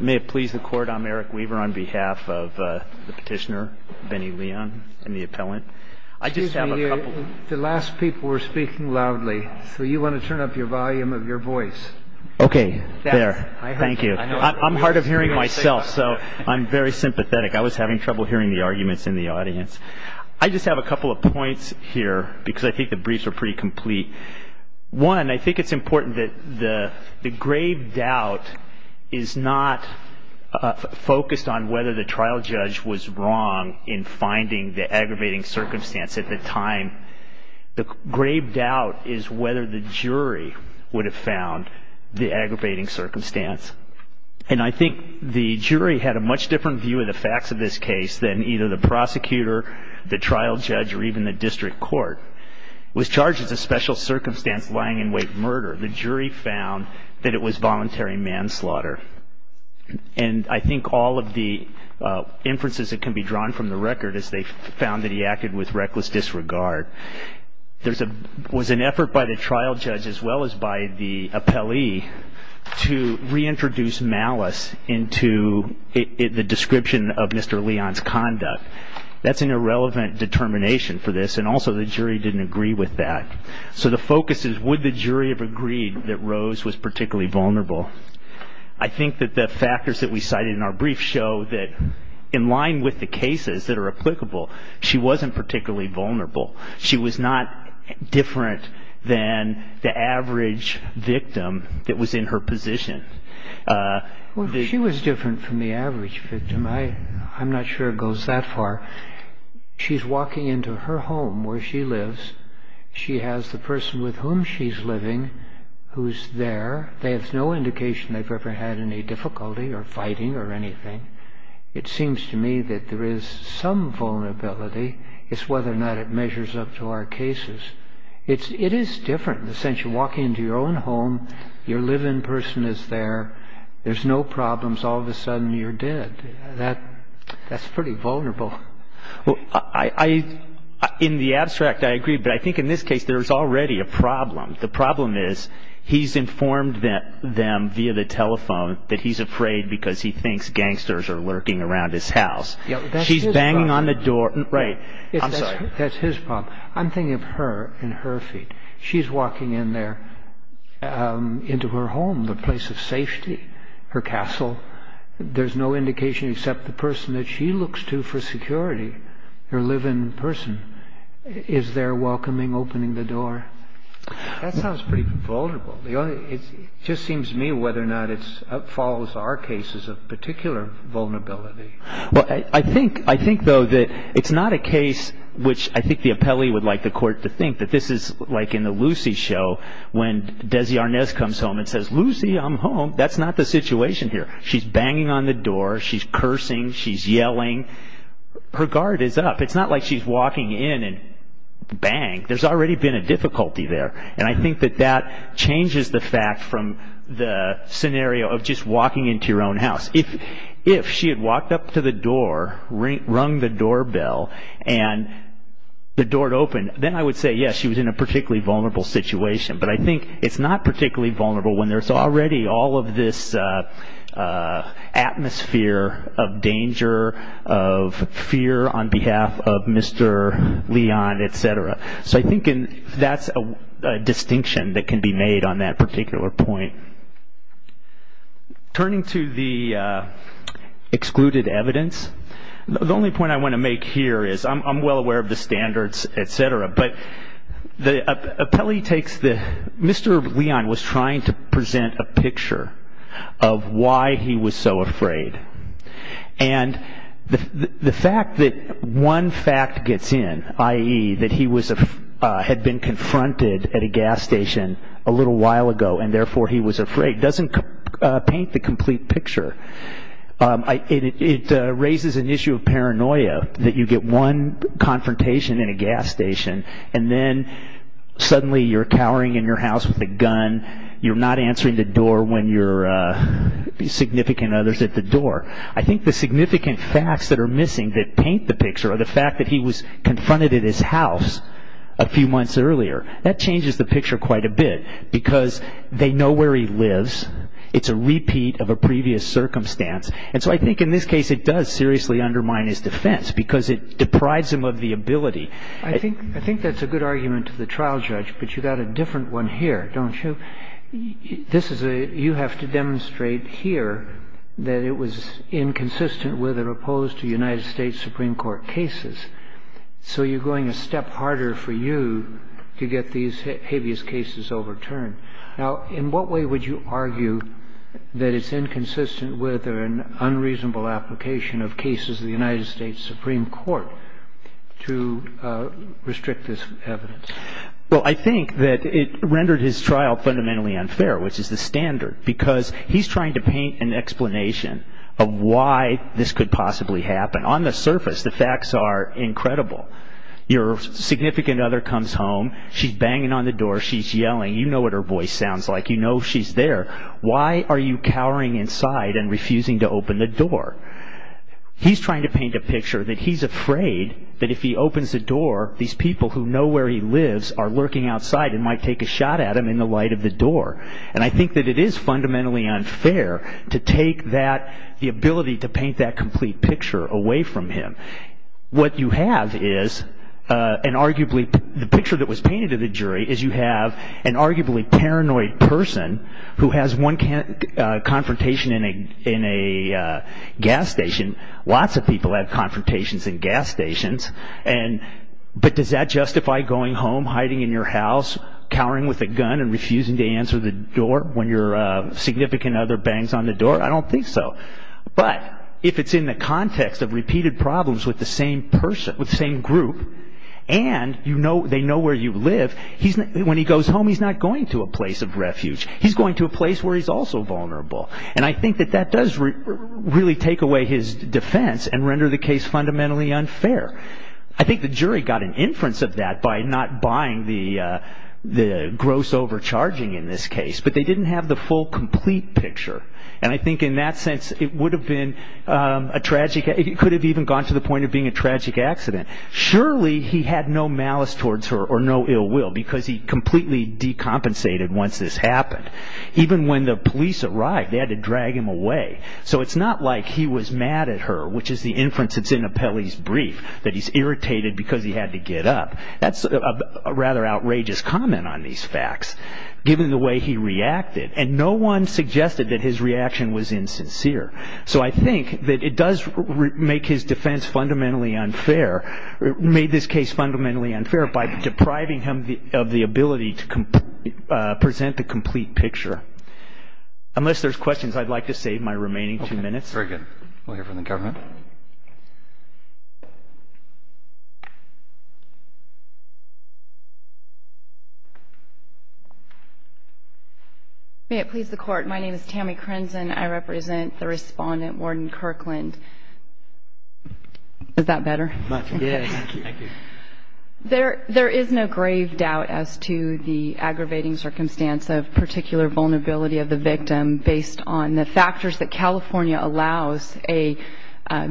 May it please the Court, I'm Eric Weaver on behalf of the petitioner, Benny Leon, and the appellant. I just have a couple... Excuse me, the last people were speaking loudly, so you want to turn up the volume of your voice. Okay, there. Thank you. I'm hard of hearing myself, so I'm very sympathetic. I was having trouble hearing the arguments in the audience. I just have a couple of points here, because I think the briefs are pretty complete. One, I think it's important that the grave doubt is not focused on whether the trial judge was wrong in finding the aggravating circumstance at the time. The grave doubt is whether the jury would have found the aggravating circumstance. And I think the jury had a much different view of the facts of this case than either the prosecutor, the trial judge, or even the district court. It was charged as a special circumstance lying-in-wait murder. The jury found that it was voluntary manslaughter. And I think all of the inferences that can be drawn from the record is they found that he acted with reckless disregard. Was an effort by the trial judge, as well as by the appellee, to reintroduce malice into the description of Mr. Leon's conduct. That's an irrelevant determination for this, and also the jury didn't agree with that. So the focus is would the jury have agreed that Rose was particularly vulnerable? I think that the factors that we cited in our brief show that in line with the cases that are applicable, she wasn't particularly vulnerable. She was not different than the average victim that was in her position. Well, she was different from the average victim. I'm not sure it goes that far. She's walking into her home where she lives. She has the person with whom she's living who's there. They have no indication they've ever had any difficulty or fighting or anything. It seems to me that there is some vulnerability. It's whether or not it measures up to our cases. It is different in the sense you walk into your own home. Your live-in person is there. There's no problems. All of a sudden, you're dead. That's pretty vulnerable. Well, in the abstract, I agree, but I think in this case, there's already a problem. The problem is he's informed them via the telephone that he's afraid because he thinks gangsters are lurking around his house. She's banging on the door. Right. I'm sorry. That's his problem. I'm thinking of her and her feet. She's walking in there into her home, the place of safety, her castle. There's no indication except the person that she looks to for security, her live-in person, is there welcoming, opening the door. That sounds pretty vulnerable. It just seems to me whether or not it follows our cases of particular vulnerability. Well, I think, though, that it's not a case which I think the appellee would like the court to think that this is like in the Lucy show when Desi Arnaz comes home and says, Lucy, I'm home. That's not the situation here. She's banging on the door. She's cursing. She's yelling. Her guard is up. It's not like she's walking in and bang. There's already been a difficulty there. I think that that changes the fact from the scenario of just walking into your own house. If she had walked up to the door, rung the doorbell, and the door had opened, then I would say, yes, she was in a particularly vulnerable situation. But I think it's not particularly vulnerable when there's already all of this atmosphere of danger, of fear on behalf of Mr. Leon, et cetera. So I think that's a distinction that can be made on that particular point. Turning to the excluded evidence, the only point I want to make here is I'm well aware of the standards, et cetera. But Mr. Leon was trying to present a picture of why he was so afraid. And the fact that one fact gets in, i.e., that he had been confronted at a gas station a little while ago, and therefore he was afraid, doesn't paint the complete picture. It raises an issue of paranoia that you get one confrontation in a gas station, and then suddenly you're cowering in your house with a gun. You're not answering the door when your significant other's at the door. I think the significant facts that are missing that paint the picture are the fact that he was confronted at his house a few months earlier. That changes the picture quite a bit, because they know where he lives. It's a repeat of a previous circumstance. And so I think in this case it does seriously undermine his defense, because it deprives him of the ability. I think that's a good argument to the trial judge, but you've got a different one here, don't you? You have to demonstrate here that it was inconsistent with or opposed to United States Supreme Court cases. So you're going a step harder for you to get these habeas cases overturned. Now, in what way would you argue that it's inconsistent with or an unreasonable application of cases of the United States Supreme Court to restrict this evidence? Well, I think that it rendered his trial fundamentally unfair, which is the standard, because he's trying to paint an explanation of why this could possibly happen. On the surface, the facts are incredible. Your significant other comes home, she's banging on the door, she's yelling. You know what her voice sounds like, you know she's there. Why are you cowering inside and refusing to open the door? He's trying to paint a picture that he's afraid that if he opens the door, these people who know where he lives are lurking outside and might take a shot at him in the light of the door. And I think that it is fundamentally unfair to take that, the ability to paint that complete picture away from him. What I'm trying to say is you have an arguably paranoid person who has one confrontation in a gas station. Lots of people have confrontations in gas stations. But does that justify going home, hiding in your house, cowering with a gun and refusing to answer the door when your significant other bangs on the door? I don't think so. But if it's in the context of repeated problems with the same group and they know where you live, when he goes home he's not going to a place of refuge. He's going to a place where he's also vulnerable. And I think that that does really take away his defense and render the case fundamentally unfair. I think the jury got an inference of that by not buying the gross overcharging in this case. But they didn't have the full complete picture. And I think in that sense it could have even gone to the point of being a tragic accident. Surely he had no malice towards her or no ill will because he completely decompensated once this happened. Even when the police arrived they had to drag him away. So it's not like he was mad at her, which is the inference that's in Apelli's brief, that he's irritated because he had to get up. That's a rather outrageous comment on these facts given the way he reacted. And no one suggested that his reaction was insincere. So I think that it does make his defense fundamentally unfair, made this case fundamentally unfair by depriving him of the ability to present the complete picture. Unless there's questions, I'd like to save my remaining two minutes. Very good. We'll hear from the government. May it please the Court. My name is Tammy Crenson. I represent the Respondent, Warden Kirkland. Is that better? Much better. Thank you. There is no grave doubt as to the aggravating circumstance of particular vulnerability of the victim based on the factors that California allows a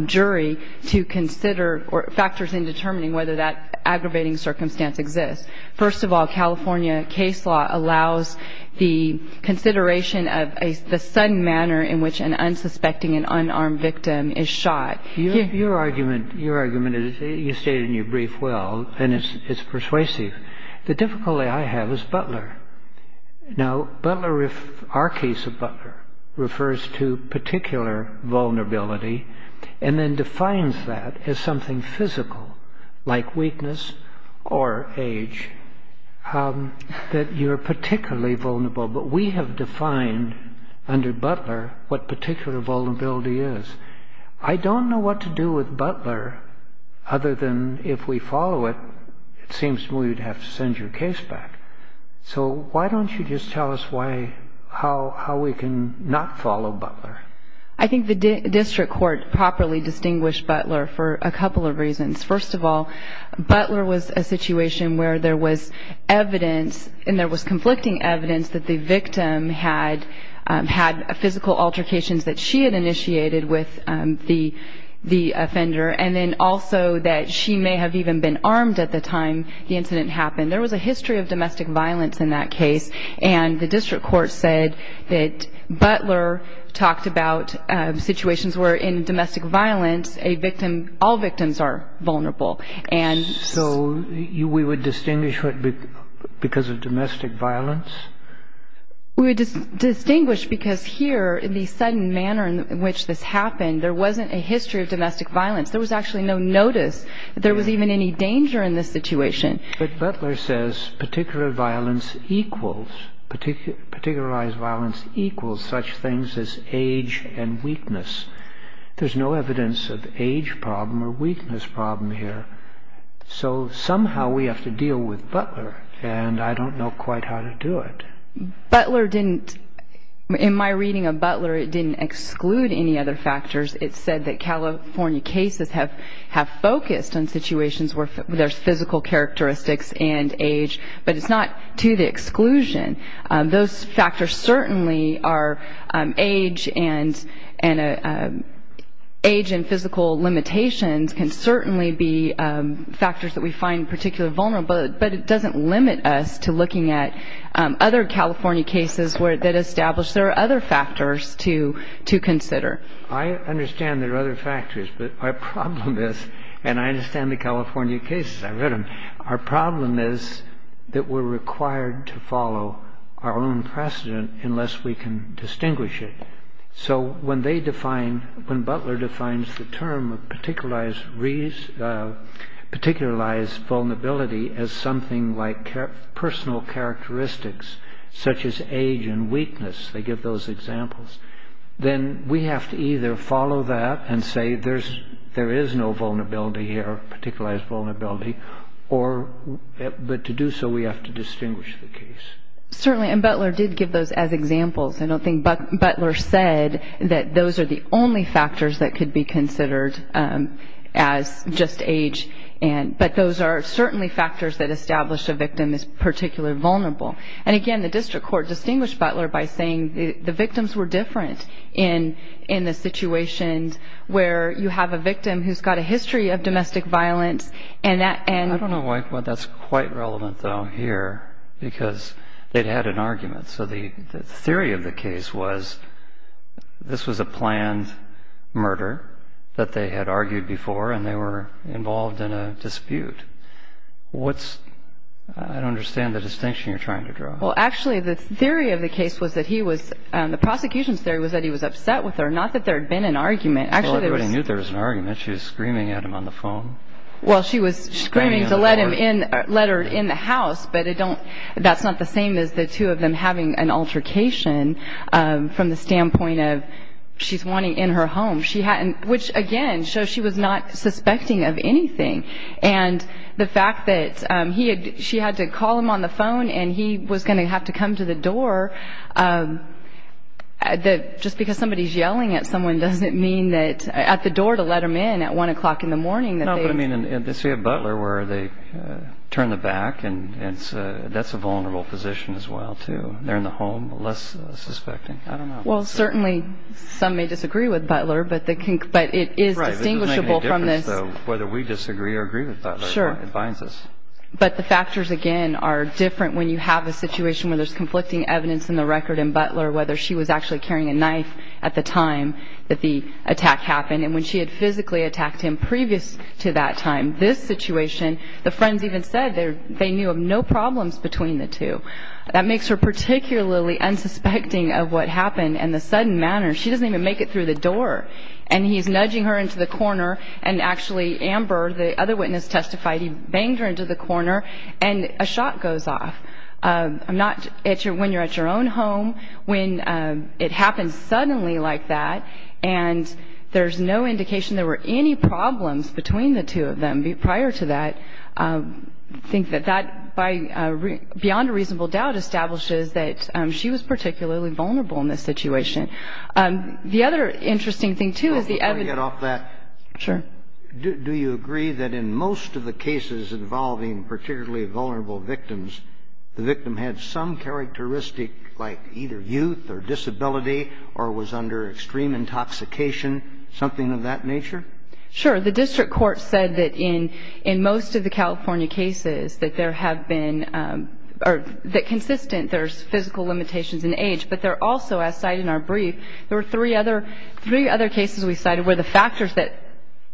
jury to consider or factors in determining whether that aggravating circumstance exists. First of all, California case law allows the consideration of the sudden manner in which an unsuspecting and unarmed victim is shot. Your argument, you stated in your brief well, and it's persuasive. The difficulty I have is Butler. Now, our case of Butler refers to particular vulnerability and then defines that as something physical, like weakness or age, that you're particularly vulnerable. But we have defined under Butler what particular vulnerability is. I don't know what to do with Butler other than if we follow it, it seems we'd have to send your case back. So why don't you just tell us how we can not follow Butler? I think the district court properly distinguished Butler for a couple of reasons. First of all, Butler was a situation where there was evidence and there was conflicting evidence that the victim had physical altercations that she had initiated with the offender and then also that she may have even been armed at the time the incident happened. There was a history of domestic violence in that case and the district court said that Butler talked about situations where in domestic violence all victims are vulnerable. So we would distinguish because of domestic violence? We would distinguish because here, in the sudden manner in which this happened, there wasn't a history of domestic violence. There was actually no notice that there was even any danger in this situation. But Butler says particularized violence equals such things as age and weakness. There's no evidence of age problem or weakness problem here. So somehow we have to deal with Butler and I don't know quite how to do it. In my reading of Butler, it didn't exclude any other factors. It said that California cases have focused on situations where there's physical characteristics and age, but it's not to the exclusion. Those factors certainly are age and physical limitations can certainly be factors that we find particularly vulnerable, but it doesn't limit us to looking at other California cases that establish there are other factors to consider. I understand there are other factors, but our problem is, and I understand the California cases, I read them, our problem is that we're required to follow our own precedent unless we can distinguish it. So when Butler defines the term of particularized vulnerability as something like personal characteristics such as age and weakness, they give those examples, then we have to either follow that and say there is no vulnerability here, particularized vulnerability, but to do so we have to distinguish the case. Certainly, and Butler did give those as examples. I don't think Butler said that those are the only factors that could be considered as just age, but those are certainly factors that establish a victim is particularly vulnerable. And again, the district court distinguished Butler by saying the victims were different in the situations where you have a victim who's got a history of domestic violence. I don't know why that's quite relevant though here because they'd had an argument. So the theory of the case was this was a planned murder that they had argued before and they were involved in a dispute. I don't understand the distinction you're trying to draw. Well, actually, the theory of the case was that he was, the prosecution's theory was that he was upset with her, not that there had been an argument. Well, everybody knew there was an argument. She was screaming at him on the phone. Well, she was screaming to let her in the house, but that's not the same as the two of them having an altercation from the standpoint of she's wanting in her home, which again shows she was not suspecting of anything. And the fact that she had to call him on the phone and he was going to have to come to the door, just because somebody's yelling at someone doesn't mean that, at the door to let him in at 1 o'clock in the morning. No, but I mean in the city of Butler where they turn the back, that's a vulnerable position as well too. They're in the home, less suspecting. Well, certainly some may disagree with Butler, but it is distinguishable from this. Whether we disagree or agree with Butler, it binds us. But the factors again are different when you have a situation where there's conflicting evidence in the record in Butler, whether she was actually carrying a knife at the time that the attack happened, and when she had physically attacked him previous to that time. This situation, the friends even said they knew of no problems between the two. That makes her particularly unsuspecting of what happened, and the sudden manner, she doesn't even make it through the door, and he's nudging her into the corner, and actually Amber, the other witness testified, he banged her into the corner, and a shot goes off. Not when you're at your own home, when it happens suddenly like that, and there's no indication there were any problems between the two of them prior to that. I think that that, beyond a reasonable doubt, establishes that she was particularly vulnerable in this situation. The other interesting thing, too, is the evidence. Before I get off that. Sure. Do you agree that in most of the cases involving particularly vulnerable victims, the victim had some characteristic like either youth or disability or was under extreme intoxication, something of that nature? Sure. The district court said that in most of the California cases that there have been, or that consistent there's physical limitations in age, but there also, as cited in our brief, there were three other cases we cited where the factors that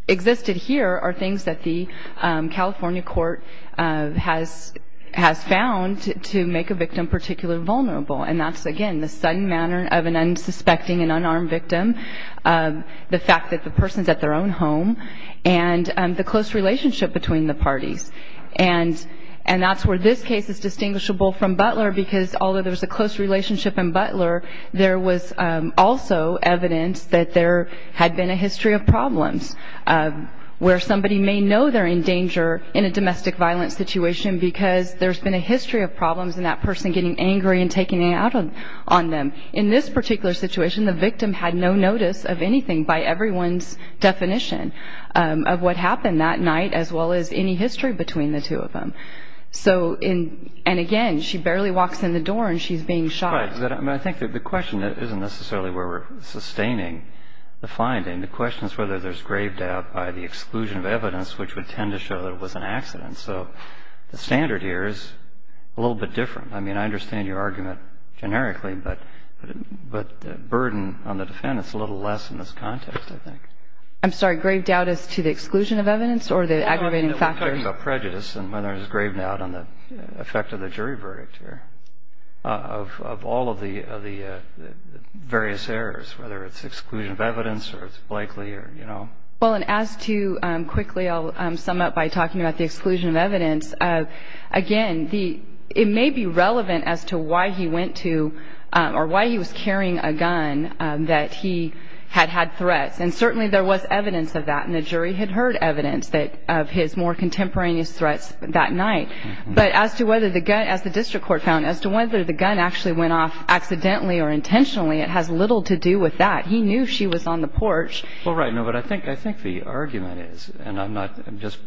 existed here are things that the California court has found to make a victim particularly vulnerable, and that's, again, the sudden manner of an unsuspecting and unarmed victim, the fact that the person's at their own home, and the close relationship between the parties, and that's where this case is distinguishable from Butler because although there was a close relationship in Butler, there was also evidence that there had been a history of problems where somebody may know they're in danger in a domestic violence situation because there's been a history of problems and that person getting angry and taking it out on them. In this particular situation, the victim had no notice of anything by everyone's definition of what happened that night as well as any history between the two of them. And again, she barely walks in the door and she's being shot. I think the question isn't necessarily where we're sustaining the finding. The question is whether there's grave doubt by the exclusion of evidence which would tend to show that it was an accident. So the standard here is a little bit different. I mean, I understand your argument generically, but the burden on the defendant is a little less in this context, I think. I'm sorry. Grave doubt as to the exclusion of evidence or the aggravating factors? I'm talking about prejudice and whether there's grave doubt on the effect of the jury verdict here of all of the various errors, whether it's exclusion of evidence or it's Blakely or, you know. Well, and as to quickly I'll sum up by talking about the exclusion of evidence, again, it may be relevant as to why he went to or why he was carrying a gun that he had had threats. And certainly there was evidence of that, and the jury had heard evidence of his more contemporaneous threats that night. But as to whether the gun, as the district court found, as to whether the gun actually went off accidentally or intentionally, it has little to do with that. He knew she was on the porch. Well, right. No, but I think the argument is, and I'm just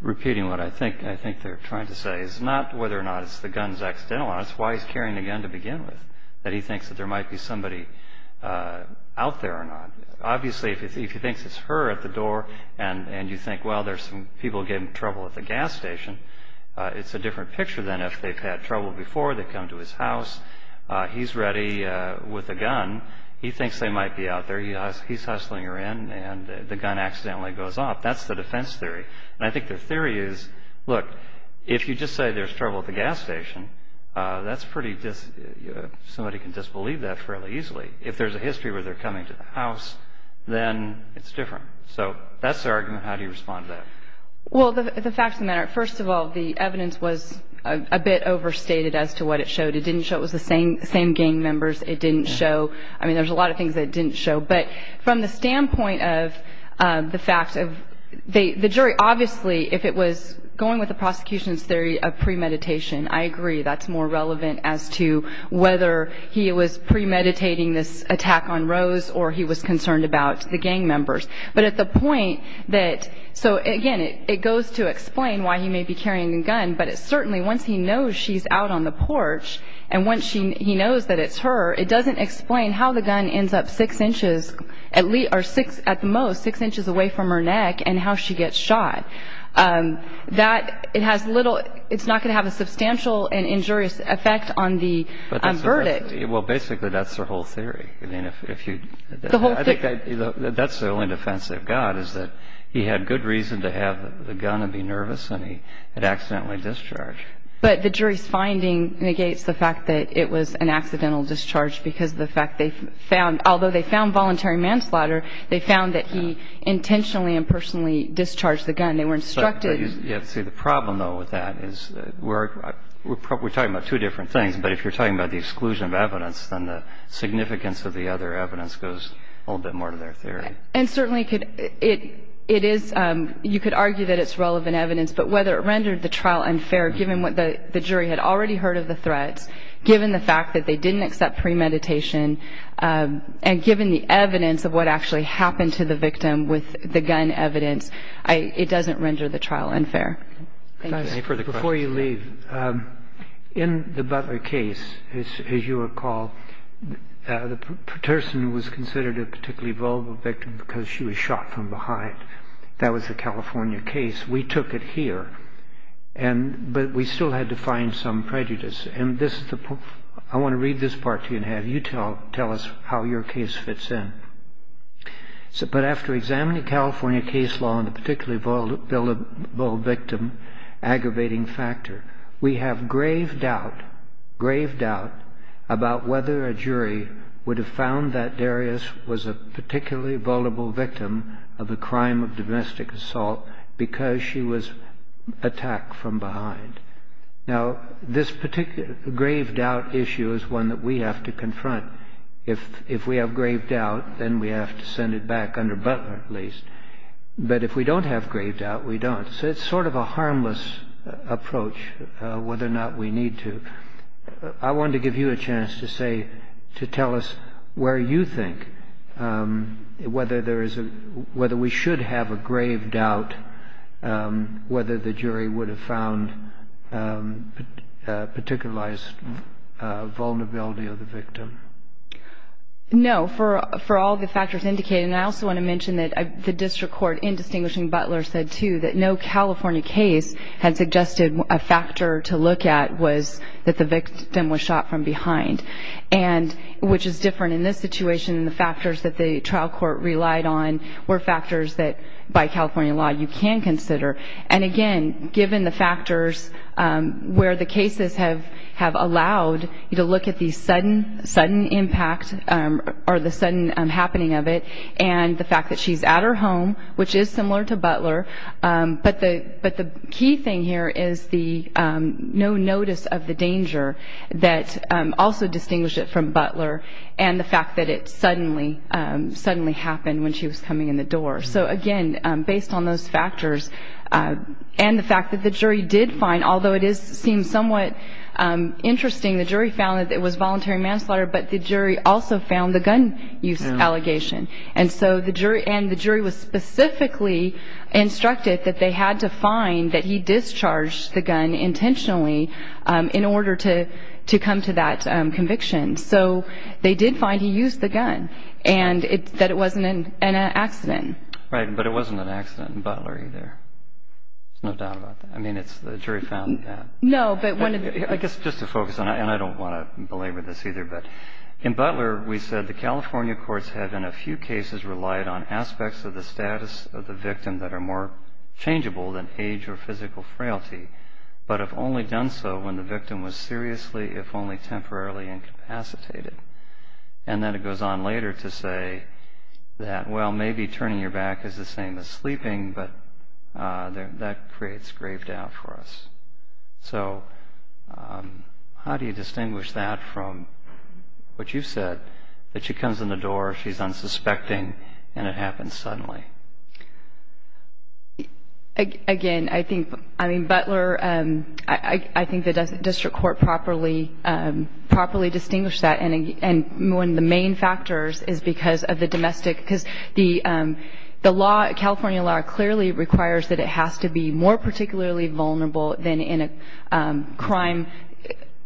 repeating what I think they're trying to say, is not whether or not it's the gun's accidental, and it's why he's carrying the gun to begin with, that he thinks that there might be somebody out there or not. Obviously, if he thinks it's her at the door and you think, well, there's some people getting in trouble at the gas station, it's a different picture than if they've had trouble before. They've come to his house. He's ready with a gun. He thinks they might be out there. He's hustling her in, and the gun accidentally goes off. That's the defense theory. And I think the theory is, look, if you just say there's trouble at the gas station, that's pretty, somebody can disbelieve that fairly easily. If there's a history where they're coming to the house, then it's different. So that's the argument. How do you respond to that? Well, the facts of the matter, first of all, the evidence was a bit overstated as to what it showed. It didn't show it was the same gang members. It didn't show, I mean, there's a lot of things that it didn't show. But from the standpoint of the fact of the jury, obviously if it was going with the prosecution's theory of premeditation, I agree. That's more relevant as to whether he was premeditating this attack on Rose or he was concerned about the gang members. But at the point that, so, again, it goes to explain why he may be carrying the gun, but it certainly, once he knows she's out on the porch, and once he knows that it's her, it doesn't explain how the gun ends up six inches, or at the most, six inches away from her neck and how she gets shot. That, it has little, it's not going to have a substantial and injurious effect on the verdict. Well, basically that's the whole theory. I mean, if you, I think that's the only defense they've got, is that he had good reason to have the gun and be nervous and he had accidentally discharged. But the jury's finding negates the fact that it was an accidental discharge because of the fact they found, although they found voluntary manslaughter, they found that he intentionally and personally discharged the gun. They were instructed. Yeah, see, the problem, though, with that is we're talking about two different things, but if you're talking about the exclusion of evidence, then the significance of the other evidence goes a little bit more to their theory. And certainly it is, you could argue that it's relevant evidence, but whether it rendered the trial unfair given what the jury had already heard of the threats, given the fact that they didn't accept premeditation, and given the evidence of what actually happened to the victim with the gun evidence, it doesn't render the trial unfair. Thank you. Any further questions? Before you leave, in the Butler case, as you recall, the person was considered a particularly vulnerable victim because she was shot from behind. That was the California case. We took it here, but we still had to find some prejudice. I want to read this part to you, and have you tell us how your case fits in. It said, But after examining California case law and the particularly vulnerable victim aggravating factor, we have grave doubt about whether a jury would have found that Darius was a particularly vulnerable victim of a crime of domestic assault because she was attacked from behind. Now, this grave doubt issue is one that we have to confront. If we have grave doubt, then we have to send it back under Butler, at least. But if we don't have grave doubt, we don't. So it's sort of a harmless approach, whether or not we need to. I wanted to give you a chance to tell us where you think, whether we should have a grave doubt, whether the jury would have found particularized vulnerability of the victim. No. For all the factors indicated, and I also want to mention that the district court, in distinguishing Butler, said too that no California case had suggested a factor to look at was that the victim was shot from behind, which is different in this situation. The factors that the trial court relied on were factors that, by California law, you can consider. And, again, given the factors where the cases have allowed you to look at the sudden impact or the sudden happening of it and the fact that she's at her home, which is similar to Butler, but the key thing here is the no notice of the danger that also distinguished it from Butler and the fact that it suddenly happened when she was coming in the door. So, again, based on those factors and the fact that the jury did find, although it seems somewhat interesting, the jury found that it was voluntary manslaughter, but the jury also found the gun use allegation. And so the jury was specifically instructed that they had to find that he discharged the gun intentionally in order to come to that conviction. So they did find he used the gun and that it wasn't an accident. Right. But it wasn't an accident in Butler either. There's no doubt about that. I mean, it's the jury found that. No, but one of the – I guess just to focus on it, and I don't want to belabor this either, but in Butler we said the California courts had in a few cases relied on aspects of the status of the victim that are more changeable than age or physical frailty, but have only done so when the victim was seriously, if only temporarily, incapacitated. And then it goes on later to say that, well, maybe turning your back is the same as sleeping, but that creates grave doubt for us. So how do you distinguish that from what you said, that she comes in the door, she's unsuspecting, and it happens suddenly? Again, I think, I mean, Butler, I think the district court properly distinguished that. And one of the main factors is because of the domestic – because the California law clearly requires that it has to be more particularly vulnerable than in a crime.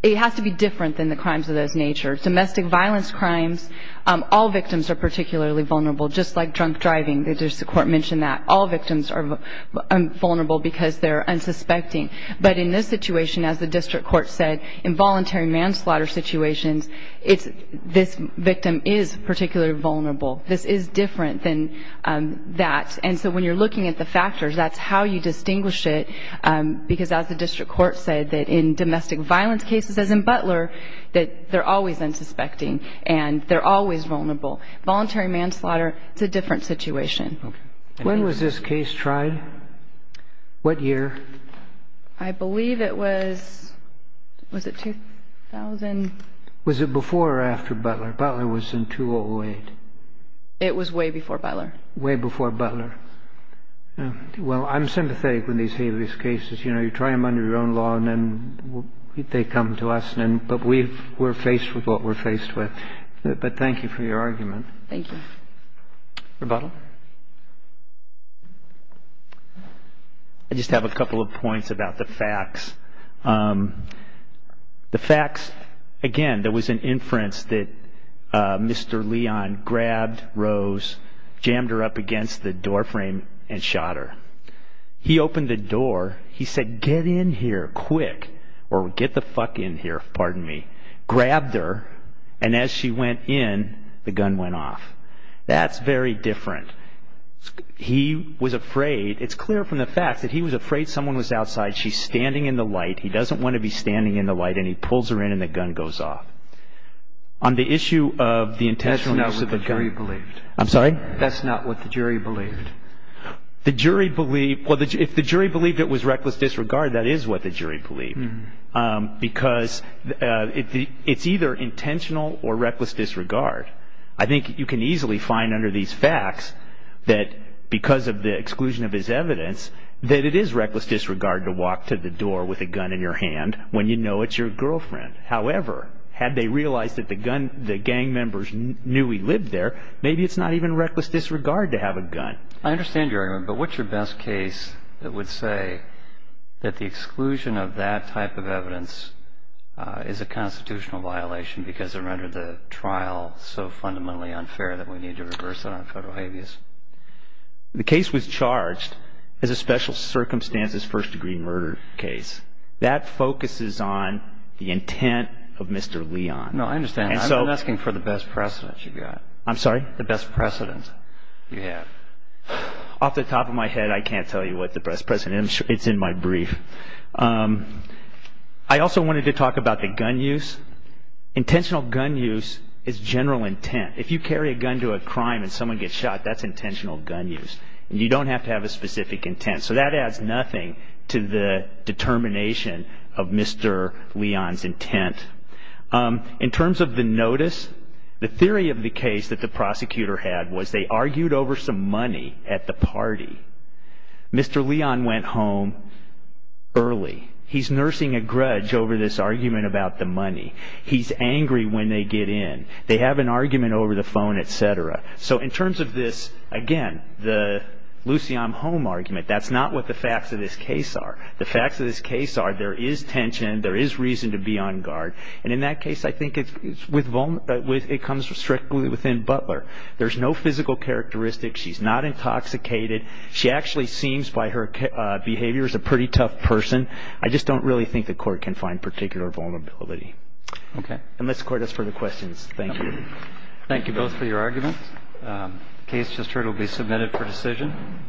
It has to be different than the crimes of those natures. Domestic violence crimes, all victims are particularly vulnerable, just like drunk driving. The district court mentioned that. All victims are vulnerable because they're unsuspecting. But in this situation, as the district court said, in voluntary manslaughter situations, this victim is particularly vulnerable. This is different than that. And so when you're looking at the factors, that's how you distinguish it, because as the district court said, that in domestic violence cases, as in Butler, that they're always unsuspecting and they're always vulnerable. Voluntary manslaughter, it's a different situation. When was this case tried? What year? I believe it was – was it 2000? Was it before or after Butler? Butler was in 2008. It was way before Butler. Way before Butler. Well, I'm sympathetic when they say these cases. You know, you try them under your own law and then they come to us. But we're faced with what we're faced with. But thank you for your argument. Rebuttal. I just have a couple of points about the facts. The facts, again, there was an inference that Mr. Leon grabbed Rose, jammed her up against the doorframe, and shot her. He opened the door. He said, get in here quick, or get the fuck in here, pardon me. Grabbed her. And as she went in, the gun went off. That's very different. He was afraid. It's clear from the facts that he was afraid someone was outside. She's standing in the light. He doesn't want to be standing in the light. And he pulls her in and the gun goes off. On the issue of the intentional use of the gun. That's not what the jury believed. I'm sorry? That's not what the jury believed. The jury believed – well, if the jury believed it was reckless disregard, that is what the jury believed. Because it's either intentional or reckless disregard. I think you can easily find under these facts that, because of the exclusion of his evidence, that it is reckless disregard to walk to the door with a gun in your hand when you know it's your girlfriend. However, had they realized that the gang members knew he lived there, maybe it's not even reckless disregard to have a gun. I understand your argument, but what's your best case that would say that the exclusion of that type of evidence is a constitutional violation because it rendered the trial so fundamentally unfair that we need to reverse it on federal habeas? The case was charged as a special circumstances first-degree murder case. That focuses on the intent of Mr. Leon. No, I understand. I'm asking for the best precedent you've got. I'm sorry? The best precedent you have. Off the top of my head, I can't tell you what the best precedent is. It's in my brief. I also wanted to talk about the gun use. Intentional gun use is general intent. If you carry a gun to a crime and someone gets shot, that's intentional gun use. You don't have to have a specific intent. So that adds nothing to the determination of Mr. Leon's intent. In terms of the notice, the theory of the case that the prosecutor had was they argued over some money at the party. Mr. Leon went home early. He's nursing a grudge over this argument about the money. He's angry when they get in. They have an argument over the phone, et cetera. So in terms of this, again, the Lucy, I'm home argument, that's not what the facts of this case are. The facts of this case are there is tension, there is reason to be on guard, and in that case I think it comes strictly within Butler. There's no physical characteristics. She's not intoxicated. She actually seems by her behavior as a pretty tough person. I just don't really think the court can find particular vulnerability. Unless the court has further questions. Thank you. Thank you both for your arguments. The case just heard will be submitted for decision.